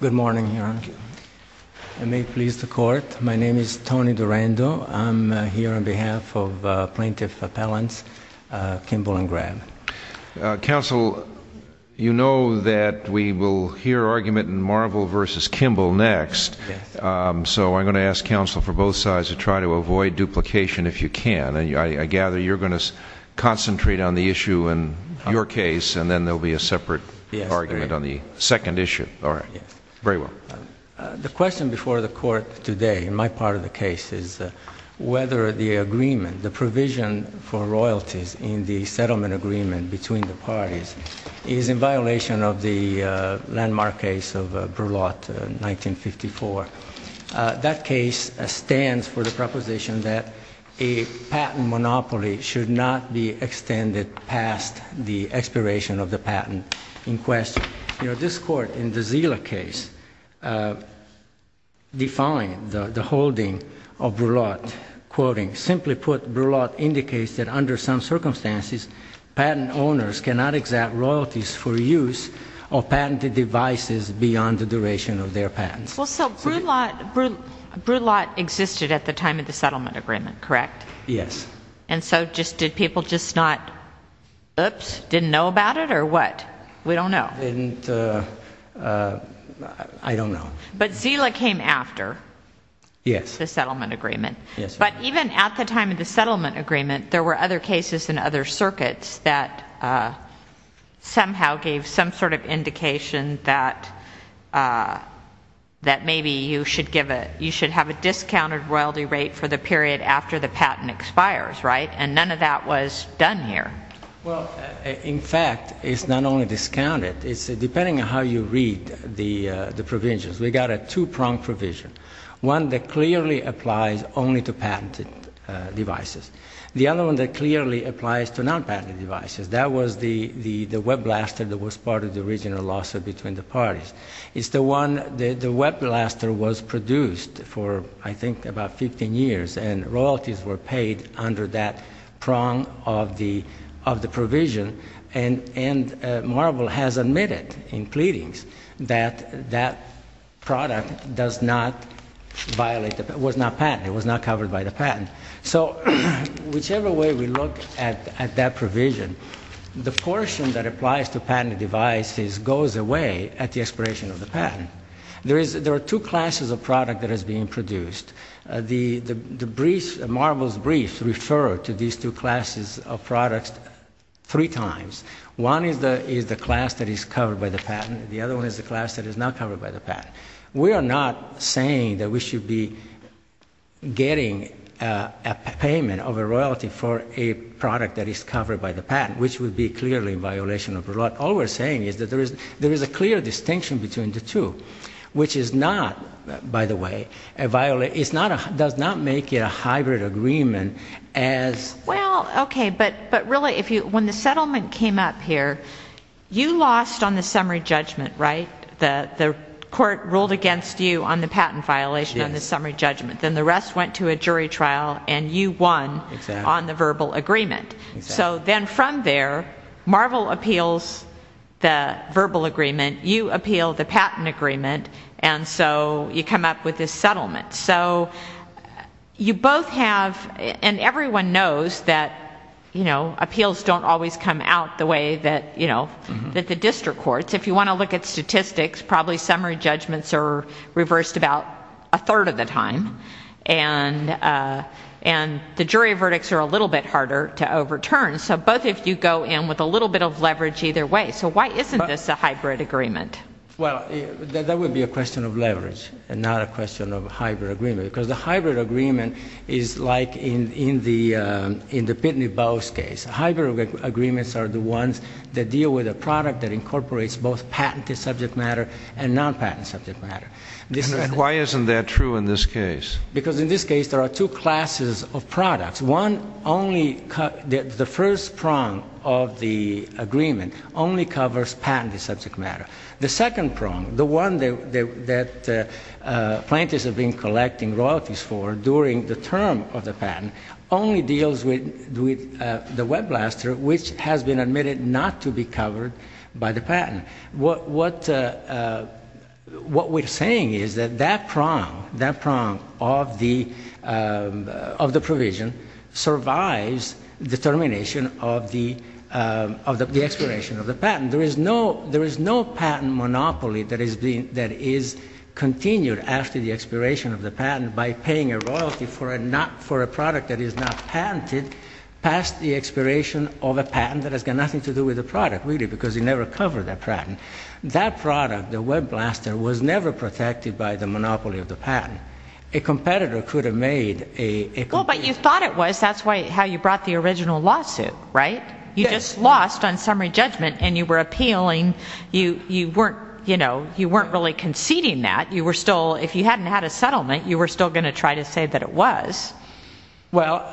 Good morning, Your Honor. I may please the court. My name is Tony Durando. I'm here on behalf of Plaintiff Appellants Kimble and Graham. Counsel, you know that we will hear argument in Marvel v. Kimble next, so I'm going to ask counsel for both sides to try to avoid duplication if you can. I gather you're going to concentrate on the issue in your case, and then there will be a separate argument on the second issue. All right. Very well. The question before the court today, in my part of the case, is whether the agreement, the provision for royalties in the settlement agreement between the parties, is in violation of the landmark case of Brulotte, 1954. That case stands for the proposition that a patent monopoly should not be extended past the expiration of the patent in question. You know, this court, in the Zila case, defined the holding of Brulotte, quoting, simply put, Brulotte indicates that under some circumstances, patent owners cannot exact royalties for use of patented devices beyond the duration of their patents. Well, so Brulotte existed at the time of the settlement agreement, correct? Yes. And so did people just not, oops, didn't know about it, or what? We don't know. But Zila came after the settlement agreement. Yes. But even at the time of the settlement agreement, there were other cases in other circuits that somehow gave some sort of indication that maybe you should have a discounted royalty rate for the period after the patent expires, right? And none of that was done here. Well, in fact, it's not only discounted. It's depending on how you read the provisions. We got a two-prong provision, one that clearly applies only to patented devices, the other one that clearly applies to non-patented devices. That was the web blaster that was part of the original lawsuit between the parties. It's the one, the web blaster was produced for, I think, about 15 years, and royalties were paid under that prong of the provision. And Marvel has admitted in pleadings that that product does not violate, was not patented, was not covered by the patent. So whichever way we look at that provision, the portion that applies to patented devices goes away at the expiration of the patent. There are two classes of product that is being produced. The briefs, Marvel's briefs refer to these two classes of products three times. One is the class that is covered by the patent. The other one is the class that is not covered by the patent. We are not saying that we should be getting a payment of a royalty for a product that is covered by the patent, which would be clearly a violation of the law. All we're saying is that there is a clear distinction between the two, which is not, by the way, a violation, does not make it a hybrid agreement as Well, okay, but really, when the settlement came up here, you lost on the summary judgment, right? The court ruled against you on the patent violation on the summary judgment, then the rest went to a jury trial, and you won on the verbal agreement. So then from there, Marvel appeals the verbal agreement, you appeal the patent agreement, and so you come up with this settlement. So you both have, and everyone knows that appeals don't always come out the way that the district courts. If you want to look at statistics, probably summary judgments are reversed about a third of the time, and the jury verdicts are a little bit harder to overturn. So both of you go in with a little bit of leverage either way. So why isn't this a hybrid agreement? Well, that would be a question of leverage and not a question of hybrid agreement, because the hybrid agreement is like in the Pitney Bowes case. Hybrid agreements are the ones that deal with a product that incorporates both patented subject matter and non-patent subject matter. And why isn't that true in this case? Because in this case, there are two classes of products. The first prong of the agreement only covers patented subject matter. The second prong, the one that plaintiffs have been collecting royalties for during the term of the patent, only deals with the web blaster, which has been admitted not to be covered by the patent. What we're saying is that that prong, that prong of the provision, survives the termination of the expiration of the patent. There is no patent monopoly that is continued after the expiration of the patent by paying a royalty for a product that is not patented past the expiration of a patent that has got nothing to do with the product. Really, because it never covered that patent. That product, the web blaster, was never protected by the monopoly of the patent. A competitor could have made a... Well, but you thought it was. That's how you brought the original lawsuit, right? You just lost on summary judgment and you were appealing. You weren't really conceding that. You were still, if you hadn't had a settlement, you were still going to try to say that it was. Well,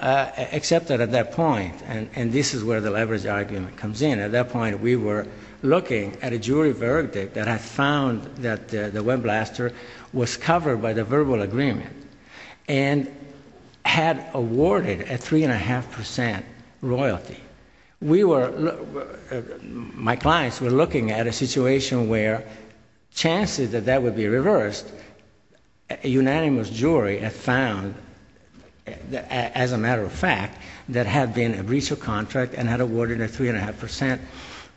except that at that point, and this is where the leverage argument comes in. At that point, we were looking at a jury verdict that had found that the web blaster was covered by the verbal agreement and had awarded a three and a half percent royalty. We were, my clients were looking at a situation where chances that that would be reversed, a unanimous jury had found, as a matter of fact, that had been a breach of contract and had awarded a three and a half percent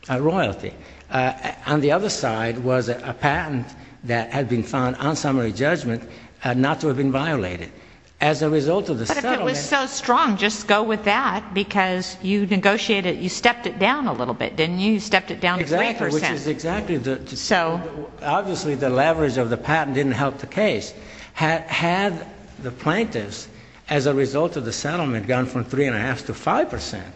royalty. On the other side was a patent that had been found on summary judgment not to have been violated. As a result of the settlement... You stepped it down a little bit, didn't you? You stepped it down to three percent. Exactly, which is exactly... So... Obviously, the leverage of the patent didn't help the case. Had the plaintiffs, as a result of the settlement, gone from three and a half to five percent,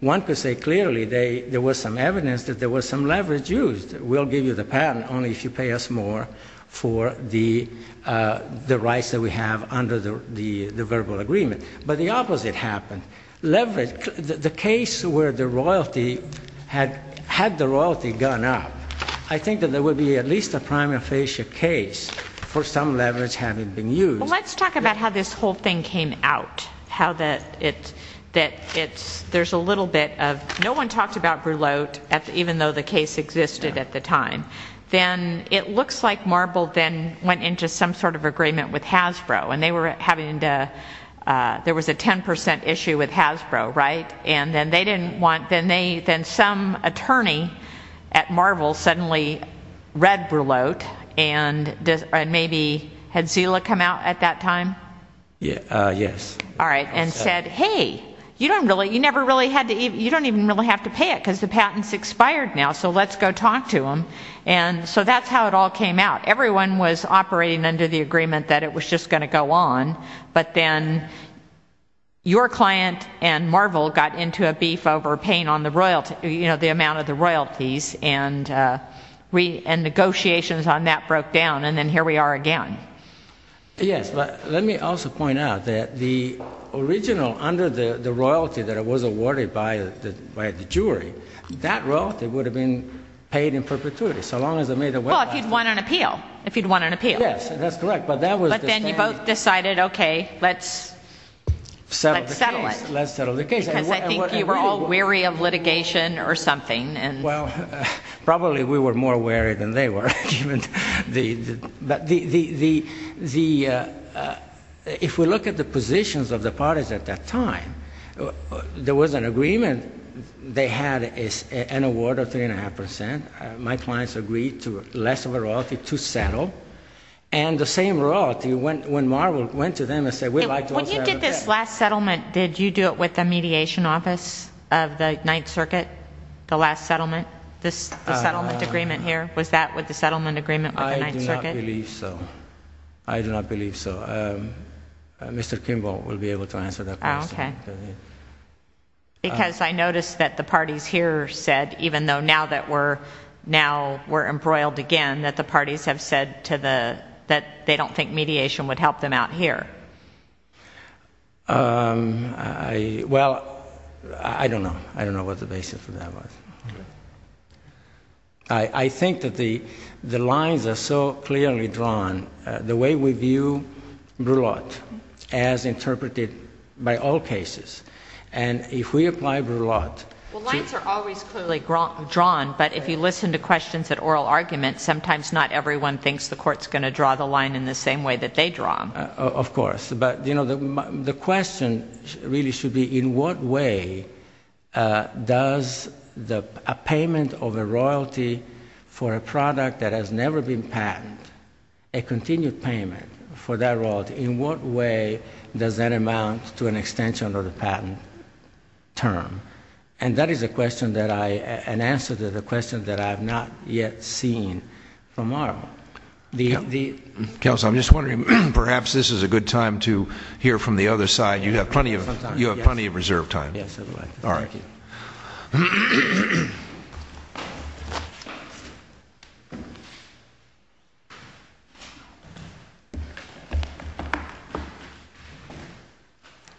one could say clearly there was some evidence that there was some leverage used. We'll give you the patent only if you pay us more for the rights that we have under the verbal agreement. But the opposite happened. Leverage, the case where the royalty had, had the royalty gone up, I think that there would be at least a prima facie case for some leverage having been used. Let's talk about how this whole thing came out. How that it, that it's, there's a little bit of, no one talked about Brulote even though the case existed at the time. Then it looks like Marble then went into some sort of agreement with Hasbro and they were having to, there was a ten percent issue with Hasbro, right? And then they didn't want, then they, then some attorney at Marble suddenly read Brulote and maybe, had Zila come out at that time? Yes. All right. And said, hey, you don't really, you never really had to, you don't even really have to pay it because the patent's expired now, so let's go talk to them. And so that's how it all came out. Everyone was operating under the agreement that it was just going to go on. But then your client and Marble got into a beef over paying on the royalty, you know, the amount of the royalties and we, and negotiations on that broke down. And then here we are again. Yes, but let me also point out that the original, under the royalty that was awarded by the jury, that royalty would have been paid in perpetuity so long as it made a way. Well, if you'd won an appeal, if you'd won an appeal. Yes, that's correct. But then you both decided, okay, let's settle the case. Let's settle the case. Because I think you were all weary of litigation or something. Well, probably we were more weary than they were. If we look at the positions of the parties at that time, there was an agreement. They had an award of three and a half percent. My clients agreed to less of a royalty to settle. And the same royalty, when Marble went to them and said, we'd like to also have a case. This last settlement, did you do it with the mediation office of the Ninth Circuit, the last settlement, the settlement agreement here? Was that with the settlement agreement with the Ninth Circuit? I do not believe so. I do not believe so. Mr. Kimball will be able to answer that question. Okay. Because I noticed that the parties here said, even though now that we're, now we're embroiled again, that the parties have said to the, that they don't think mediation would help them out here. Well, I don't know. I don't know what the basis of that was. I think that the, the lines are so clearly drawn, the way we view Brulotte, as interpreted by all cases. And if we apply Brulotte. Well, lines are always clearly drawn, but if you listen to questions at oral arguments, sometimes not everyone thinks the court's going to draw the line in the same way that they draw them. Of course. But, you know, the question really should be, in what way does the, a payment of a royalty for a product that has never been patented, a continued payment for that royalty, in what way does that amount to an extension of the patent term? And that is a question that I, an answer to the question that I have not yet seen from oral. Counsel, I'm just wondering, perhaps this is a good time to hear from the other side. You have plenty of, you have plenty of reserved time. Yes. All right.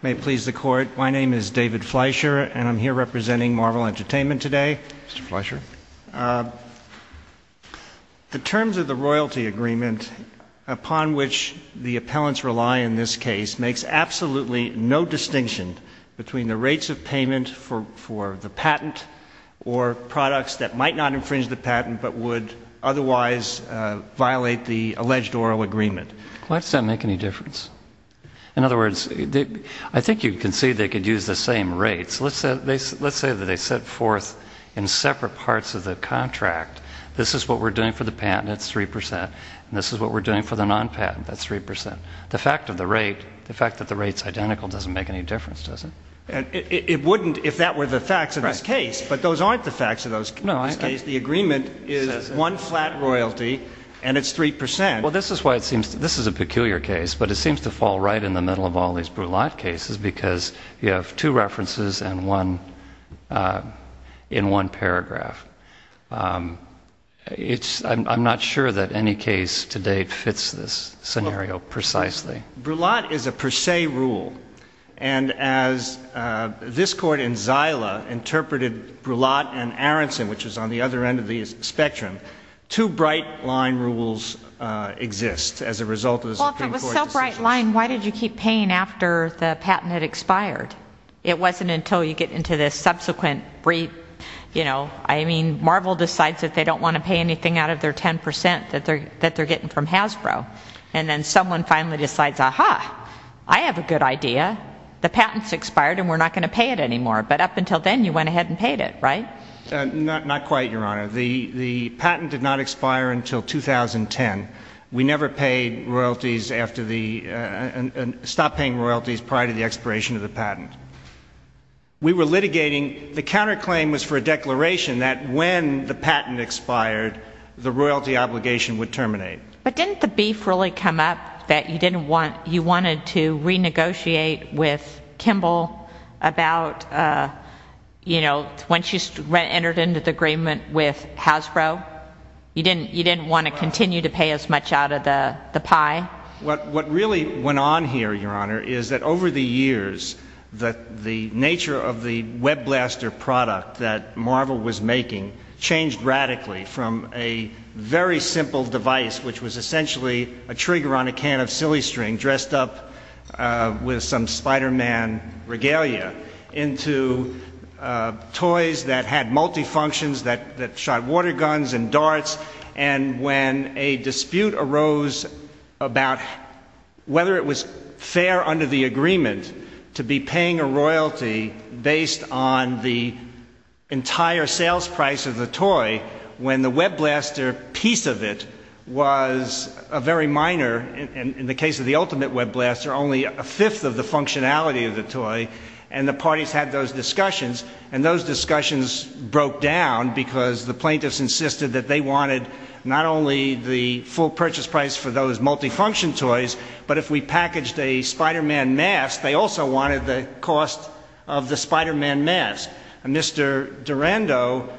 May it please the court. My name is David Fleisher, and I'm here representing Marvel Entertainment today. Mr. Fleisher. The terms of the royalty agreement upon which the appellants rely in this case makes absolutely no distinction between the rates of payment for the patent or products that might not infringe the patent but would otherwise violate the alleged oral agreement. Why does that make any difference? In other words, I think you can see they could use the same rates. Let's say that they set forth in separate parts of the contract, this is what we're doing for the patent, that's 3 percent, and this is what we're doing for the non-patent, that's 3 percent. The fact of the rate, the fact that the rate's identical doesn't make any difference, does it? It wouldn't if that were the facts of this case, but those aren't the facts of this case. The agreement is one flat royalty, and it's 3 percent. Well, this is a peculiar case, but it seems to fall right in the middle of all these Brulotte cases because you have two references in one paragraph. I'm not sure that any case to date fits this scenario precisely. Brulotte is a per se rule, and as this Court in Zyla interpreted Brulotte and Aronson, which is on the other end of the spectrum, two bright line rules exist as a result of the Supreme Court decisions. Well, if it was so bright line, why did you keep paying after the patent had expired? It wasn't until you get into this subsequent brief, you know, I mean, Marvel decides that they don't want to pay anything out of their 10 percent that they're getting from Hasbro. And then someone finally decides, aha, I have a good idea. The patent's expired, and we're not going to pay it anymore. But up until then, you went ahead and paid it, right? Not quite, Your Honor. The patent did not expire until 2010. We never paid royalties after the, stopped paying royalties prior to the expiration of the patent. We were litigating, the counterclaim was for a declaration that when the patent expired, the royalty obligation would terminate. But didn't the beef really come up that you didn't want, you wanted to renegotiate with Kimball about, you know, when she entered into the agreement with Hasbro? You didn't want to continue to pay as much out of the pie? What really went on here, Your Honor, is that over the years, the nature of the WebBlaster product that Marvel was making changed radically from a very simple device, which was essentially a trigger on a can of silly string dressed up with some Spider-Man regalia, into toys that had multifunctions, that shot water guns and darts. And when a dispute arose about whether it was fair under the agreement to be paying a royalty based on the entire sales price of the toy, when the WebBlaster piece of it was a very minor, in the case of the Ultimate WebBlaster, only a fifth of the functionality of the toy, and the parties had those discussions. And those discussions broke down because the plaintiffs insisted that they wanted not only the full purchase price for those multifunction toys, but if we packaged a Spider-Man mask, they also wanted the cost of the Spider-Man mask. And Mr. Durando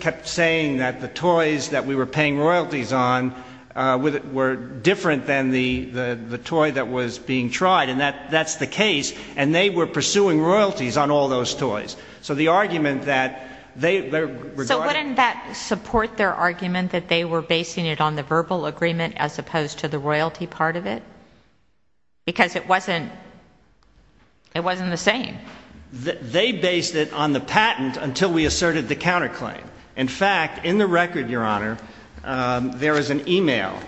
kept saying that the toys that we were paying royalties on were different than the toy that was being tried. And that's the case. And they were pursuing royalties on all those toys. So the argument that they regarded... So wouldn't that support their argument that they were basing it on the verbal agreement as opposed to the royalty part of it? Because it wasn't the same. They based it on the patent until we asserted the counterclaim. In fact, in the record, Your Honor, there is an e-mail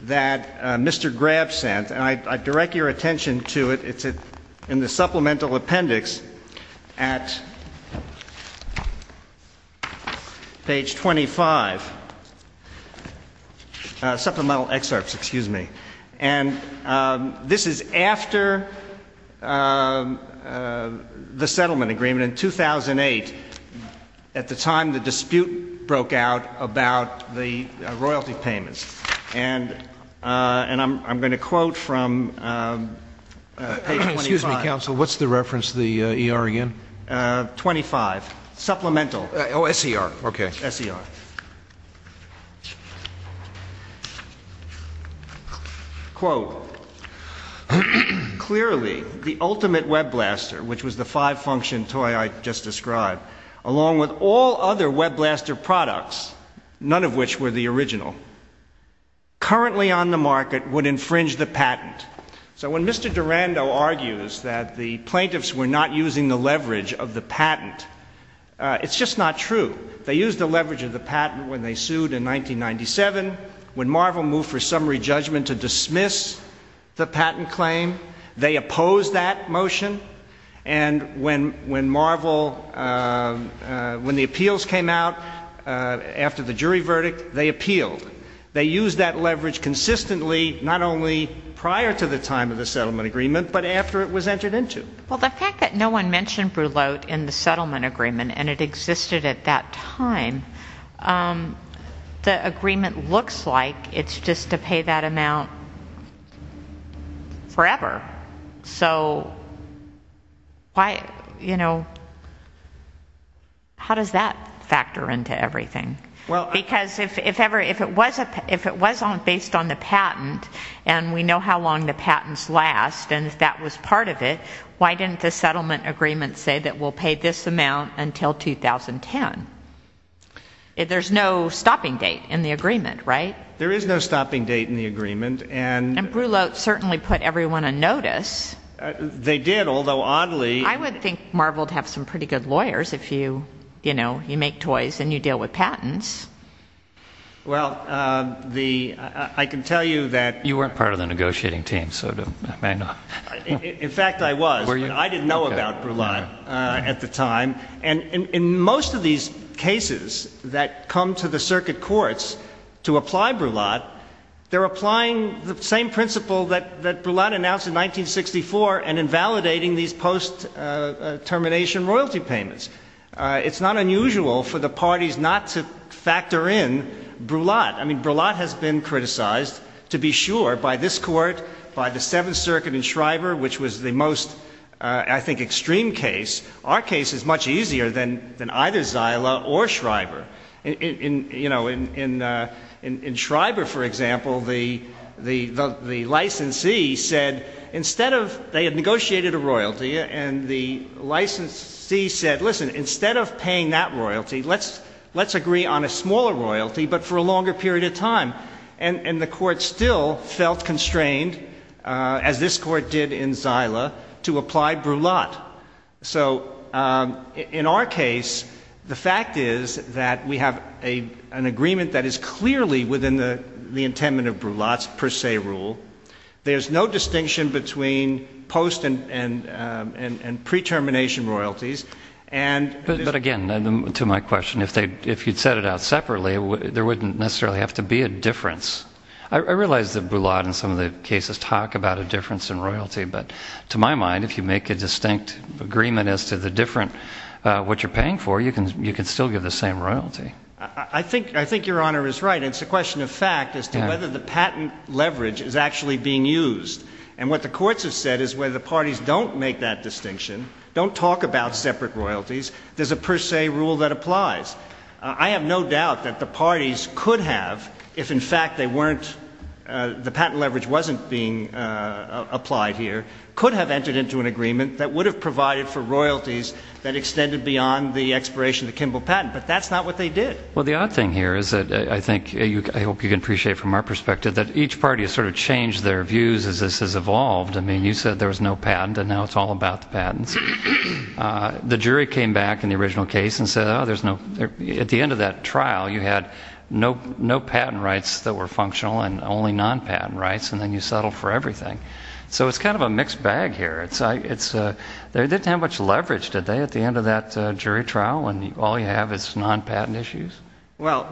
that Mr. Grab sent, and I direct your attention to it. It's in the supplemental appendix at page 25. Supplemental excerpts, excuse me. And this is after the settlement agreement in 2008, at the time the dispute broke out about the royalty payments. And I'm going to quote from page 25. Excuse me, counsel. What's the reference to the ER again? 25. Oh, SER. Okay. SER. Quote, clearly the ultimate WebBlaster, which was the five-function toy I just described, along with all other WebBlaster products, none of which were the original, currently on the market would infringe the patent. So when Mr. Durando argues that the plaintiffs were not using the leverage of the patent, it's just not true. They used the leverage of the patent when they sued in 1997, when Marvel moved for summary judgment to dismiss the patent claim. They opposed that motion. And when Marvel, when the appeals came out after the jury verdict, they appealed. They used that leverage consistently, not only prior to the time of the settlement agreement, but after it was entered into. Well, the fact that no one mentioned Brulote in the settlement agreement, and it existed at that time, the agreement looks like it's just to pay that amount forever. So why, you know, how does that factor into everything? Because if it was based on the patent, and we know how long the patents last, and that was part of it, why didn't the settlement agreement say that we'll pay this amount until 2010? There's no stopping date in the agreement, right? There is no stopping date in the agreement. And Brulote certainly put everyone on notice. They did, although oddly. I would think Marvel would have some pretty good lawyers if, you know, you make toys and you deal with patents. Well, I can tell you that. You weren't part of the negotiating team, so I know. In fact, I was, but I didn't know about Brulote at the time. And in most of these cases that come to the circuit courts to apply Brulote, they're applying the same principle that Brulote announced in 1964 and invalidating these post-termination royalty payments. It's not unusual for the parties not to factor in Brulote. I mean, Brulote has been criticized, to be sure, by this court, by the Seventh Circuit in Schreiber, which was the most, I think, extreme case. Our case is much easier than either Zyla or Schreiber. You know, in Schreiber, for example, the licensee said instead of they had negotiated a royalty and the licensee said, listen, instead of paying that royalty, let's agree on a smaller royalty, but for a longer period of time. And the court still felt constrained, as this court did in Zyla, to apply Brulote. So in our case, the fact is that we have an agreement that is clearly within the intent of Brulote's per se rule. There's no distinction between post and pre-termination royalties. But again, to my question, if you'd set it out separately, there wouldn't necessarily have to be a difference. I realize that Brulote in some of the cases talk about a difference in royalty, but to my mind, if you make a distinct agreement as to what you're paying for, you can still give the same royalty. I think Your Honor is right. It's a question of fact as to whether the patent leverage is actually being used. And what the courts have said is where the parties don't make that distinction, don't talk about separate royalties, there's a per se rule that applies. I have no doubt that the parties could have, if in fact they weren't, the patent leverage wasn't being applied here, could have entered into an agreement that would have provided for royalties that extended beyond the expiration of the Kimbell patent. But that's not what they did. Well, the odd thing here is that I think, I hope you can appreciate from our perspective, that each party has sort of changed their views as this has evolved. I mean, you said there was no patent, and now it's all about the patents. The jury came back in the original case and said, oh, at the end of that trial, you had no patent rights that were functional and only non-patent rights, and then you settled for everything. So it's kind of a mixed bag here. They didn't have much leverage, did they, at the end of that jury trial, when all you have is non-patent issues? Well,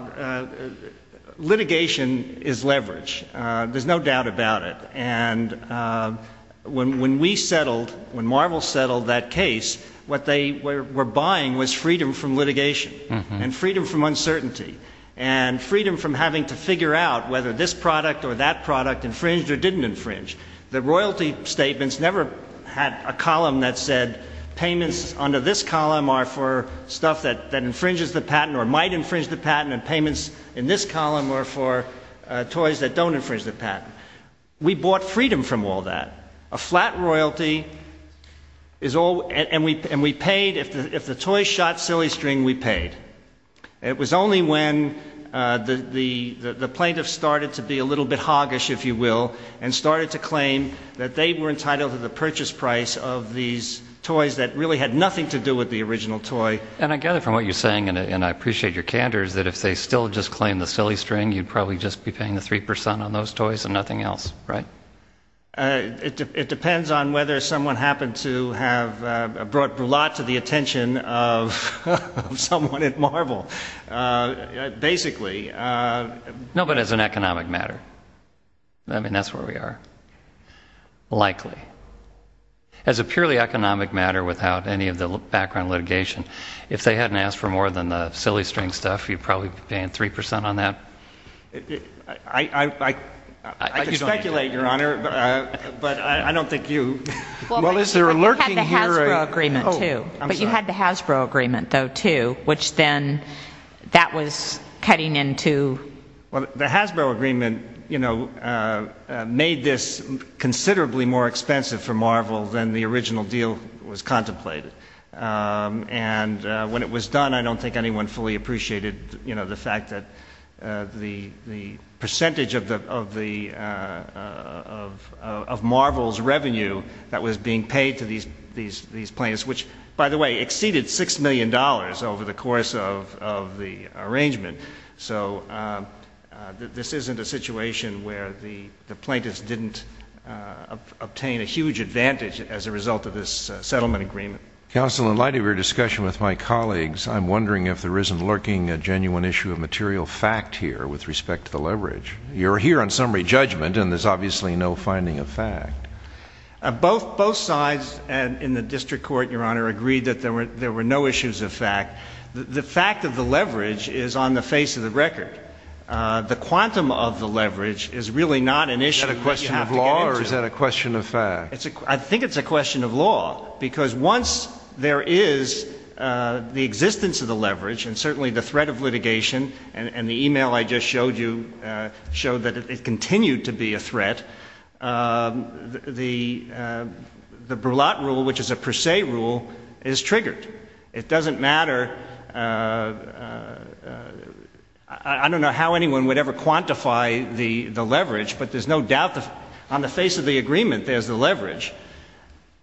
litigation is leverage. There's no doubt about it. And when we settled, when Marvel settled that case, what they were buying was freedom from litigation and freedom from uncertainty and freedom from having to figure out whether this product or that product infringed or didn't infringe. The royalty statements never had a column that said payments under this column are for stuff that infringes the patent or might infringe the patent, and payments in this column are for toys that don't infringe the patent. We bought freedom from all that. A flat royalty is all, and we paid, if the toy shot silly string, we paid. It was only when the plaintiff started to be a little bit hoggish, if you will, and started to claim that they were entitled to the purchase price of these toys that really had nothing to do with the original toy. And I gather from what you're saying, and I appreciate your candor, is that if they still just claimed the silly string, you'd probably just be paying the 3% on those toys and nothing else, right? It depends on whether someone happened to have brought brulette to the attention of someone at Marvel. Basically. No, but as an economic matter. I mean, that's where we are. Likely. As a purely economic matter without any of the background litigation, if they hadn't asked for more than the silly string stuff, you'd probably be paying 3% on that? I could speculate, Your Honor, but I don't think you... Well, but you had the Hasbro agreement, too. I'm sorry. But you had the Hasbro agreement, though, too, which then that was cutting into... Well, the Hasbro agreement, you know, made this considerably more expensive for Marvel than the original deal was contemplated. And when it was done, I don't think anyone fully appreciated the fact that the percentage of Marvel's revenue that was being paid to these plaintiffs, which, by the way, exceeded $6 million over the course of the arrangement. So this isn't a situation where the plaintiffs didn't obtain a huge advantage as a result of this settlement agreement. Counsel, in light of your discussion with my colleagues, I'm wondering if there isn't lurking a genuine issue of material fact here with respect to the leverage. You're here on summary judgment, and there's obviously no finding of fact. Both sides in the district court, Your Honor, agreed that there were no issues of fact. The fact of the leverage is on the face of the record. The quantum of the leverage is really not an issue that you have to get into. Is that a question of law, or is that a question of fact? I think it's a question of law, because once there is the existence of the leverage, and certainly the threat of litigation, and the e-mail I just showed you showed that it continued to be a threat, the Burlatt rule, which is a per se rule, is triggered. It doesn't matter. I don't know how anyone would ever quantify the leverage, but there's no doubt on the face of the agreement there's the leverage.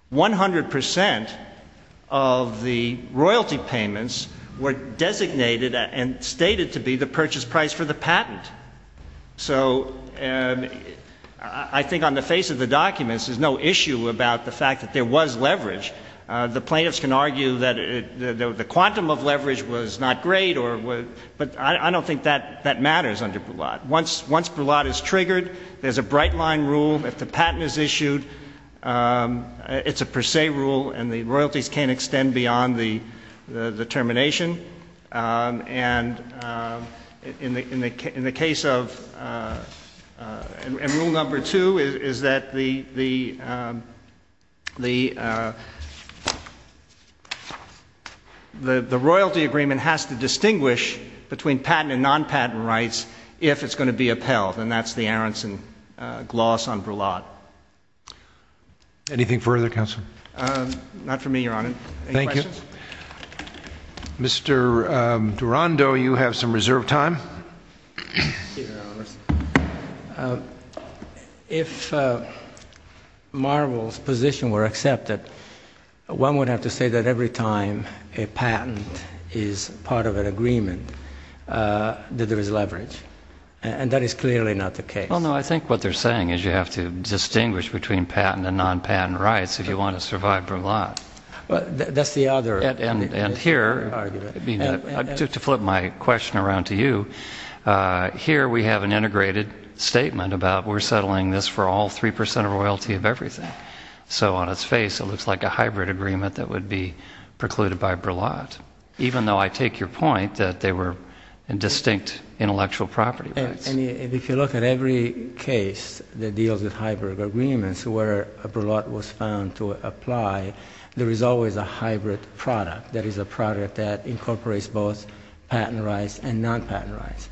One hundred percent of the royalty payments were designated and stated to be the purchase price for the patent. So I think on the face of the documents there's no issue about the fact that there was leverage. The plaintiffs can argue that the quantum of leverage was not great, but I don't think that matters under Burlatt. Once Burlatt is triggered, there's a bright line rule. If the patent is issued, it's a per se rule, and the royalties can't extend beyond the termination. And in the case of — and rule number two is that the royalty agreement has to distinguish between patent and non-patent rights if it's going to be upheld, and that's the Aronson-Gloss on Burlatt. Anything further, counsel? Not for me, Your Honor. Thank you. Any questions? Mr. Durando, you have some reserved time. If Marvel's position were accepted, one would have to say that every time a patent is part of an agreement, that there is leverage. And that is clearly not the case. Well, no, I think what they're saying is you have to distinguish between patent and non-patent rights if you want to survive Burlatt. That's the other argument. And here, to flip my question around to you, here we have an integrated statement about we're settling this for all 3 percent royalty of everything. So on its face, it looks like a hybrid agreement that would be precluded by Burlatt, even though I take your point that they were distinct intellectual property rights. If you look at every case that deals with hybrid agreements where Burlatt was found to apply, there is always a hybrid product. That is a product that incorporates both patent rights and non-patent rights.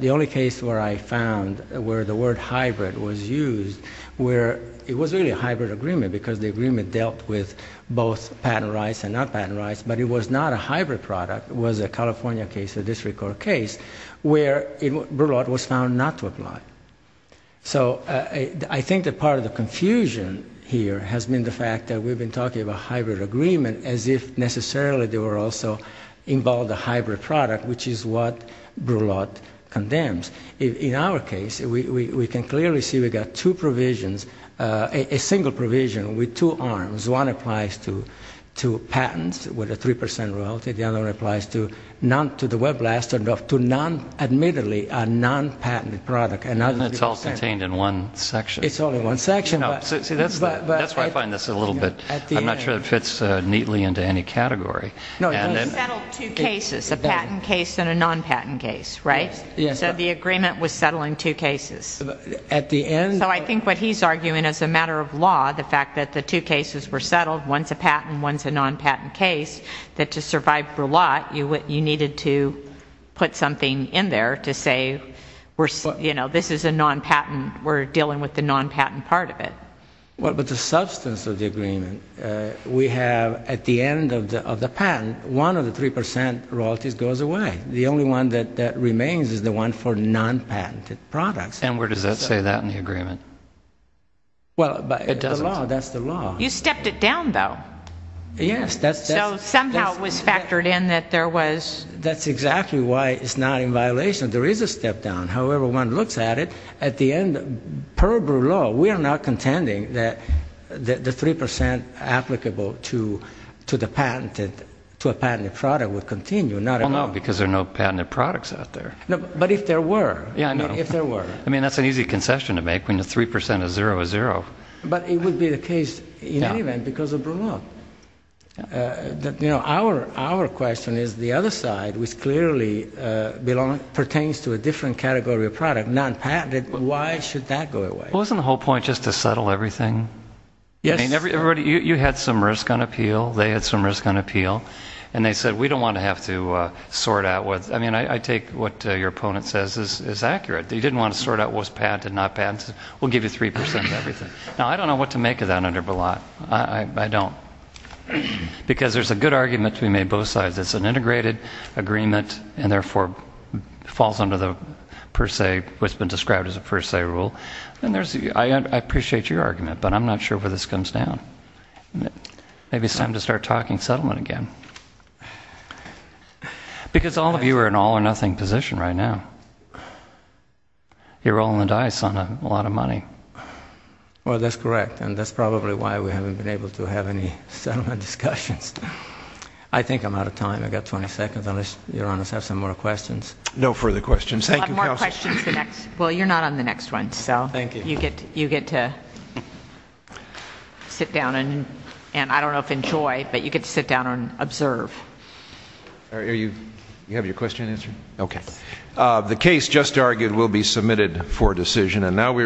The only case where I found where the word hybrid was used where it was really a hybrid agreement because the agreement dealt with both patent rights and non-patent rights, but it was not a hybrid product. It was a California case, a district court case, where Burlatt was found not to apply. So I think that part of the confusion here has been the fact that we've been talking about hybrid agreement as if necessarily they were also involved a hybrid product, which is what Burlatt condemns. In our case, we can clearly see we've got two provisions, a single provision with two arms. One applies to patents with a 3% royalty. The other applies to the Webblast and to non-admittedly a non-patent product. And it's all contained in one section. It's all in one section. See, that's why I find this a little bit, I'm not sure it fits neatly into any category. No, they settled two cases, a patent case and a non-patent case, right? Yes. So the agreement was settling two cases. So I think what he's arguing as a matter of law, the fact that the two cases were settled, one's a patent and one's a non-patent case, that to survive Burlatt, you needed to put something in there to say, you know, this is a non-patent, we're dealing with the non-patent part of it. Well, but the substance of the agreement, we have at the end of the patent, one of the 3% royalties goes away. The only one that remains is the one for non-patented products. And where does that say that in the agreement? It doesn't. That's the law. You stepped it down, though. Yes. So somehow it was factored in that there was... That's exactly why it's not in violation. There is a step down. However one looks at it, at the end, per Burlatt, we are not contending that the 3% applicable to a patented product would continue. Well, no, because there are no patented products out there. But if there were. Yeah, I know. If there were. I mean, that's an easy concession to make when the 3% of zero is zero. But it would be the case in any event because of Burlatt. You know, our question is the other side, which clearly pertains to a different category of product, non-patented, why should that go away? Well, isn't the whole point just to settle everything? Yes. I mean, you had some risk on appeal, they had some risk on appeal, and they said we don't want to have to sort out what... I mean, I take what your opponent says is accurate. They didn't want to sort out what's patented and not patented. We'll give you 3% of everything. Now, I don't know what to make of that under Burlatt. I don't. Because there's a good argument to be made both sides. It's an integrated agreement and therefore falls under the per se, what's been described as a per se rule. And I appreciate your argument, but I'm not sure where this comes down. Maybe it's time to start talking settlement again. Because all of you are in an all-or-nothing position right now. You're rolling the dice on a lot of money. Well, that's correct, and that's probably why we haven't been able to have any settlement discussions. I think I'm out of time. I've got 20 seconds. Unless your Honor has some more questions. No further questions. Thank you, counsel. Well, you're not on the next one. Thank you. You get to sit down and, I don't know if enjoy, but you get to sit down and observe. You have your question answered? Okay. The case just argued will be submitted for decision.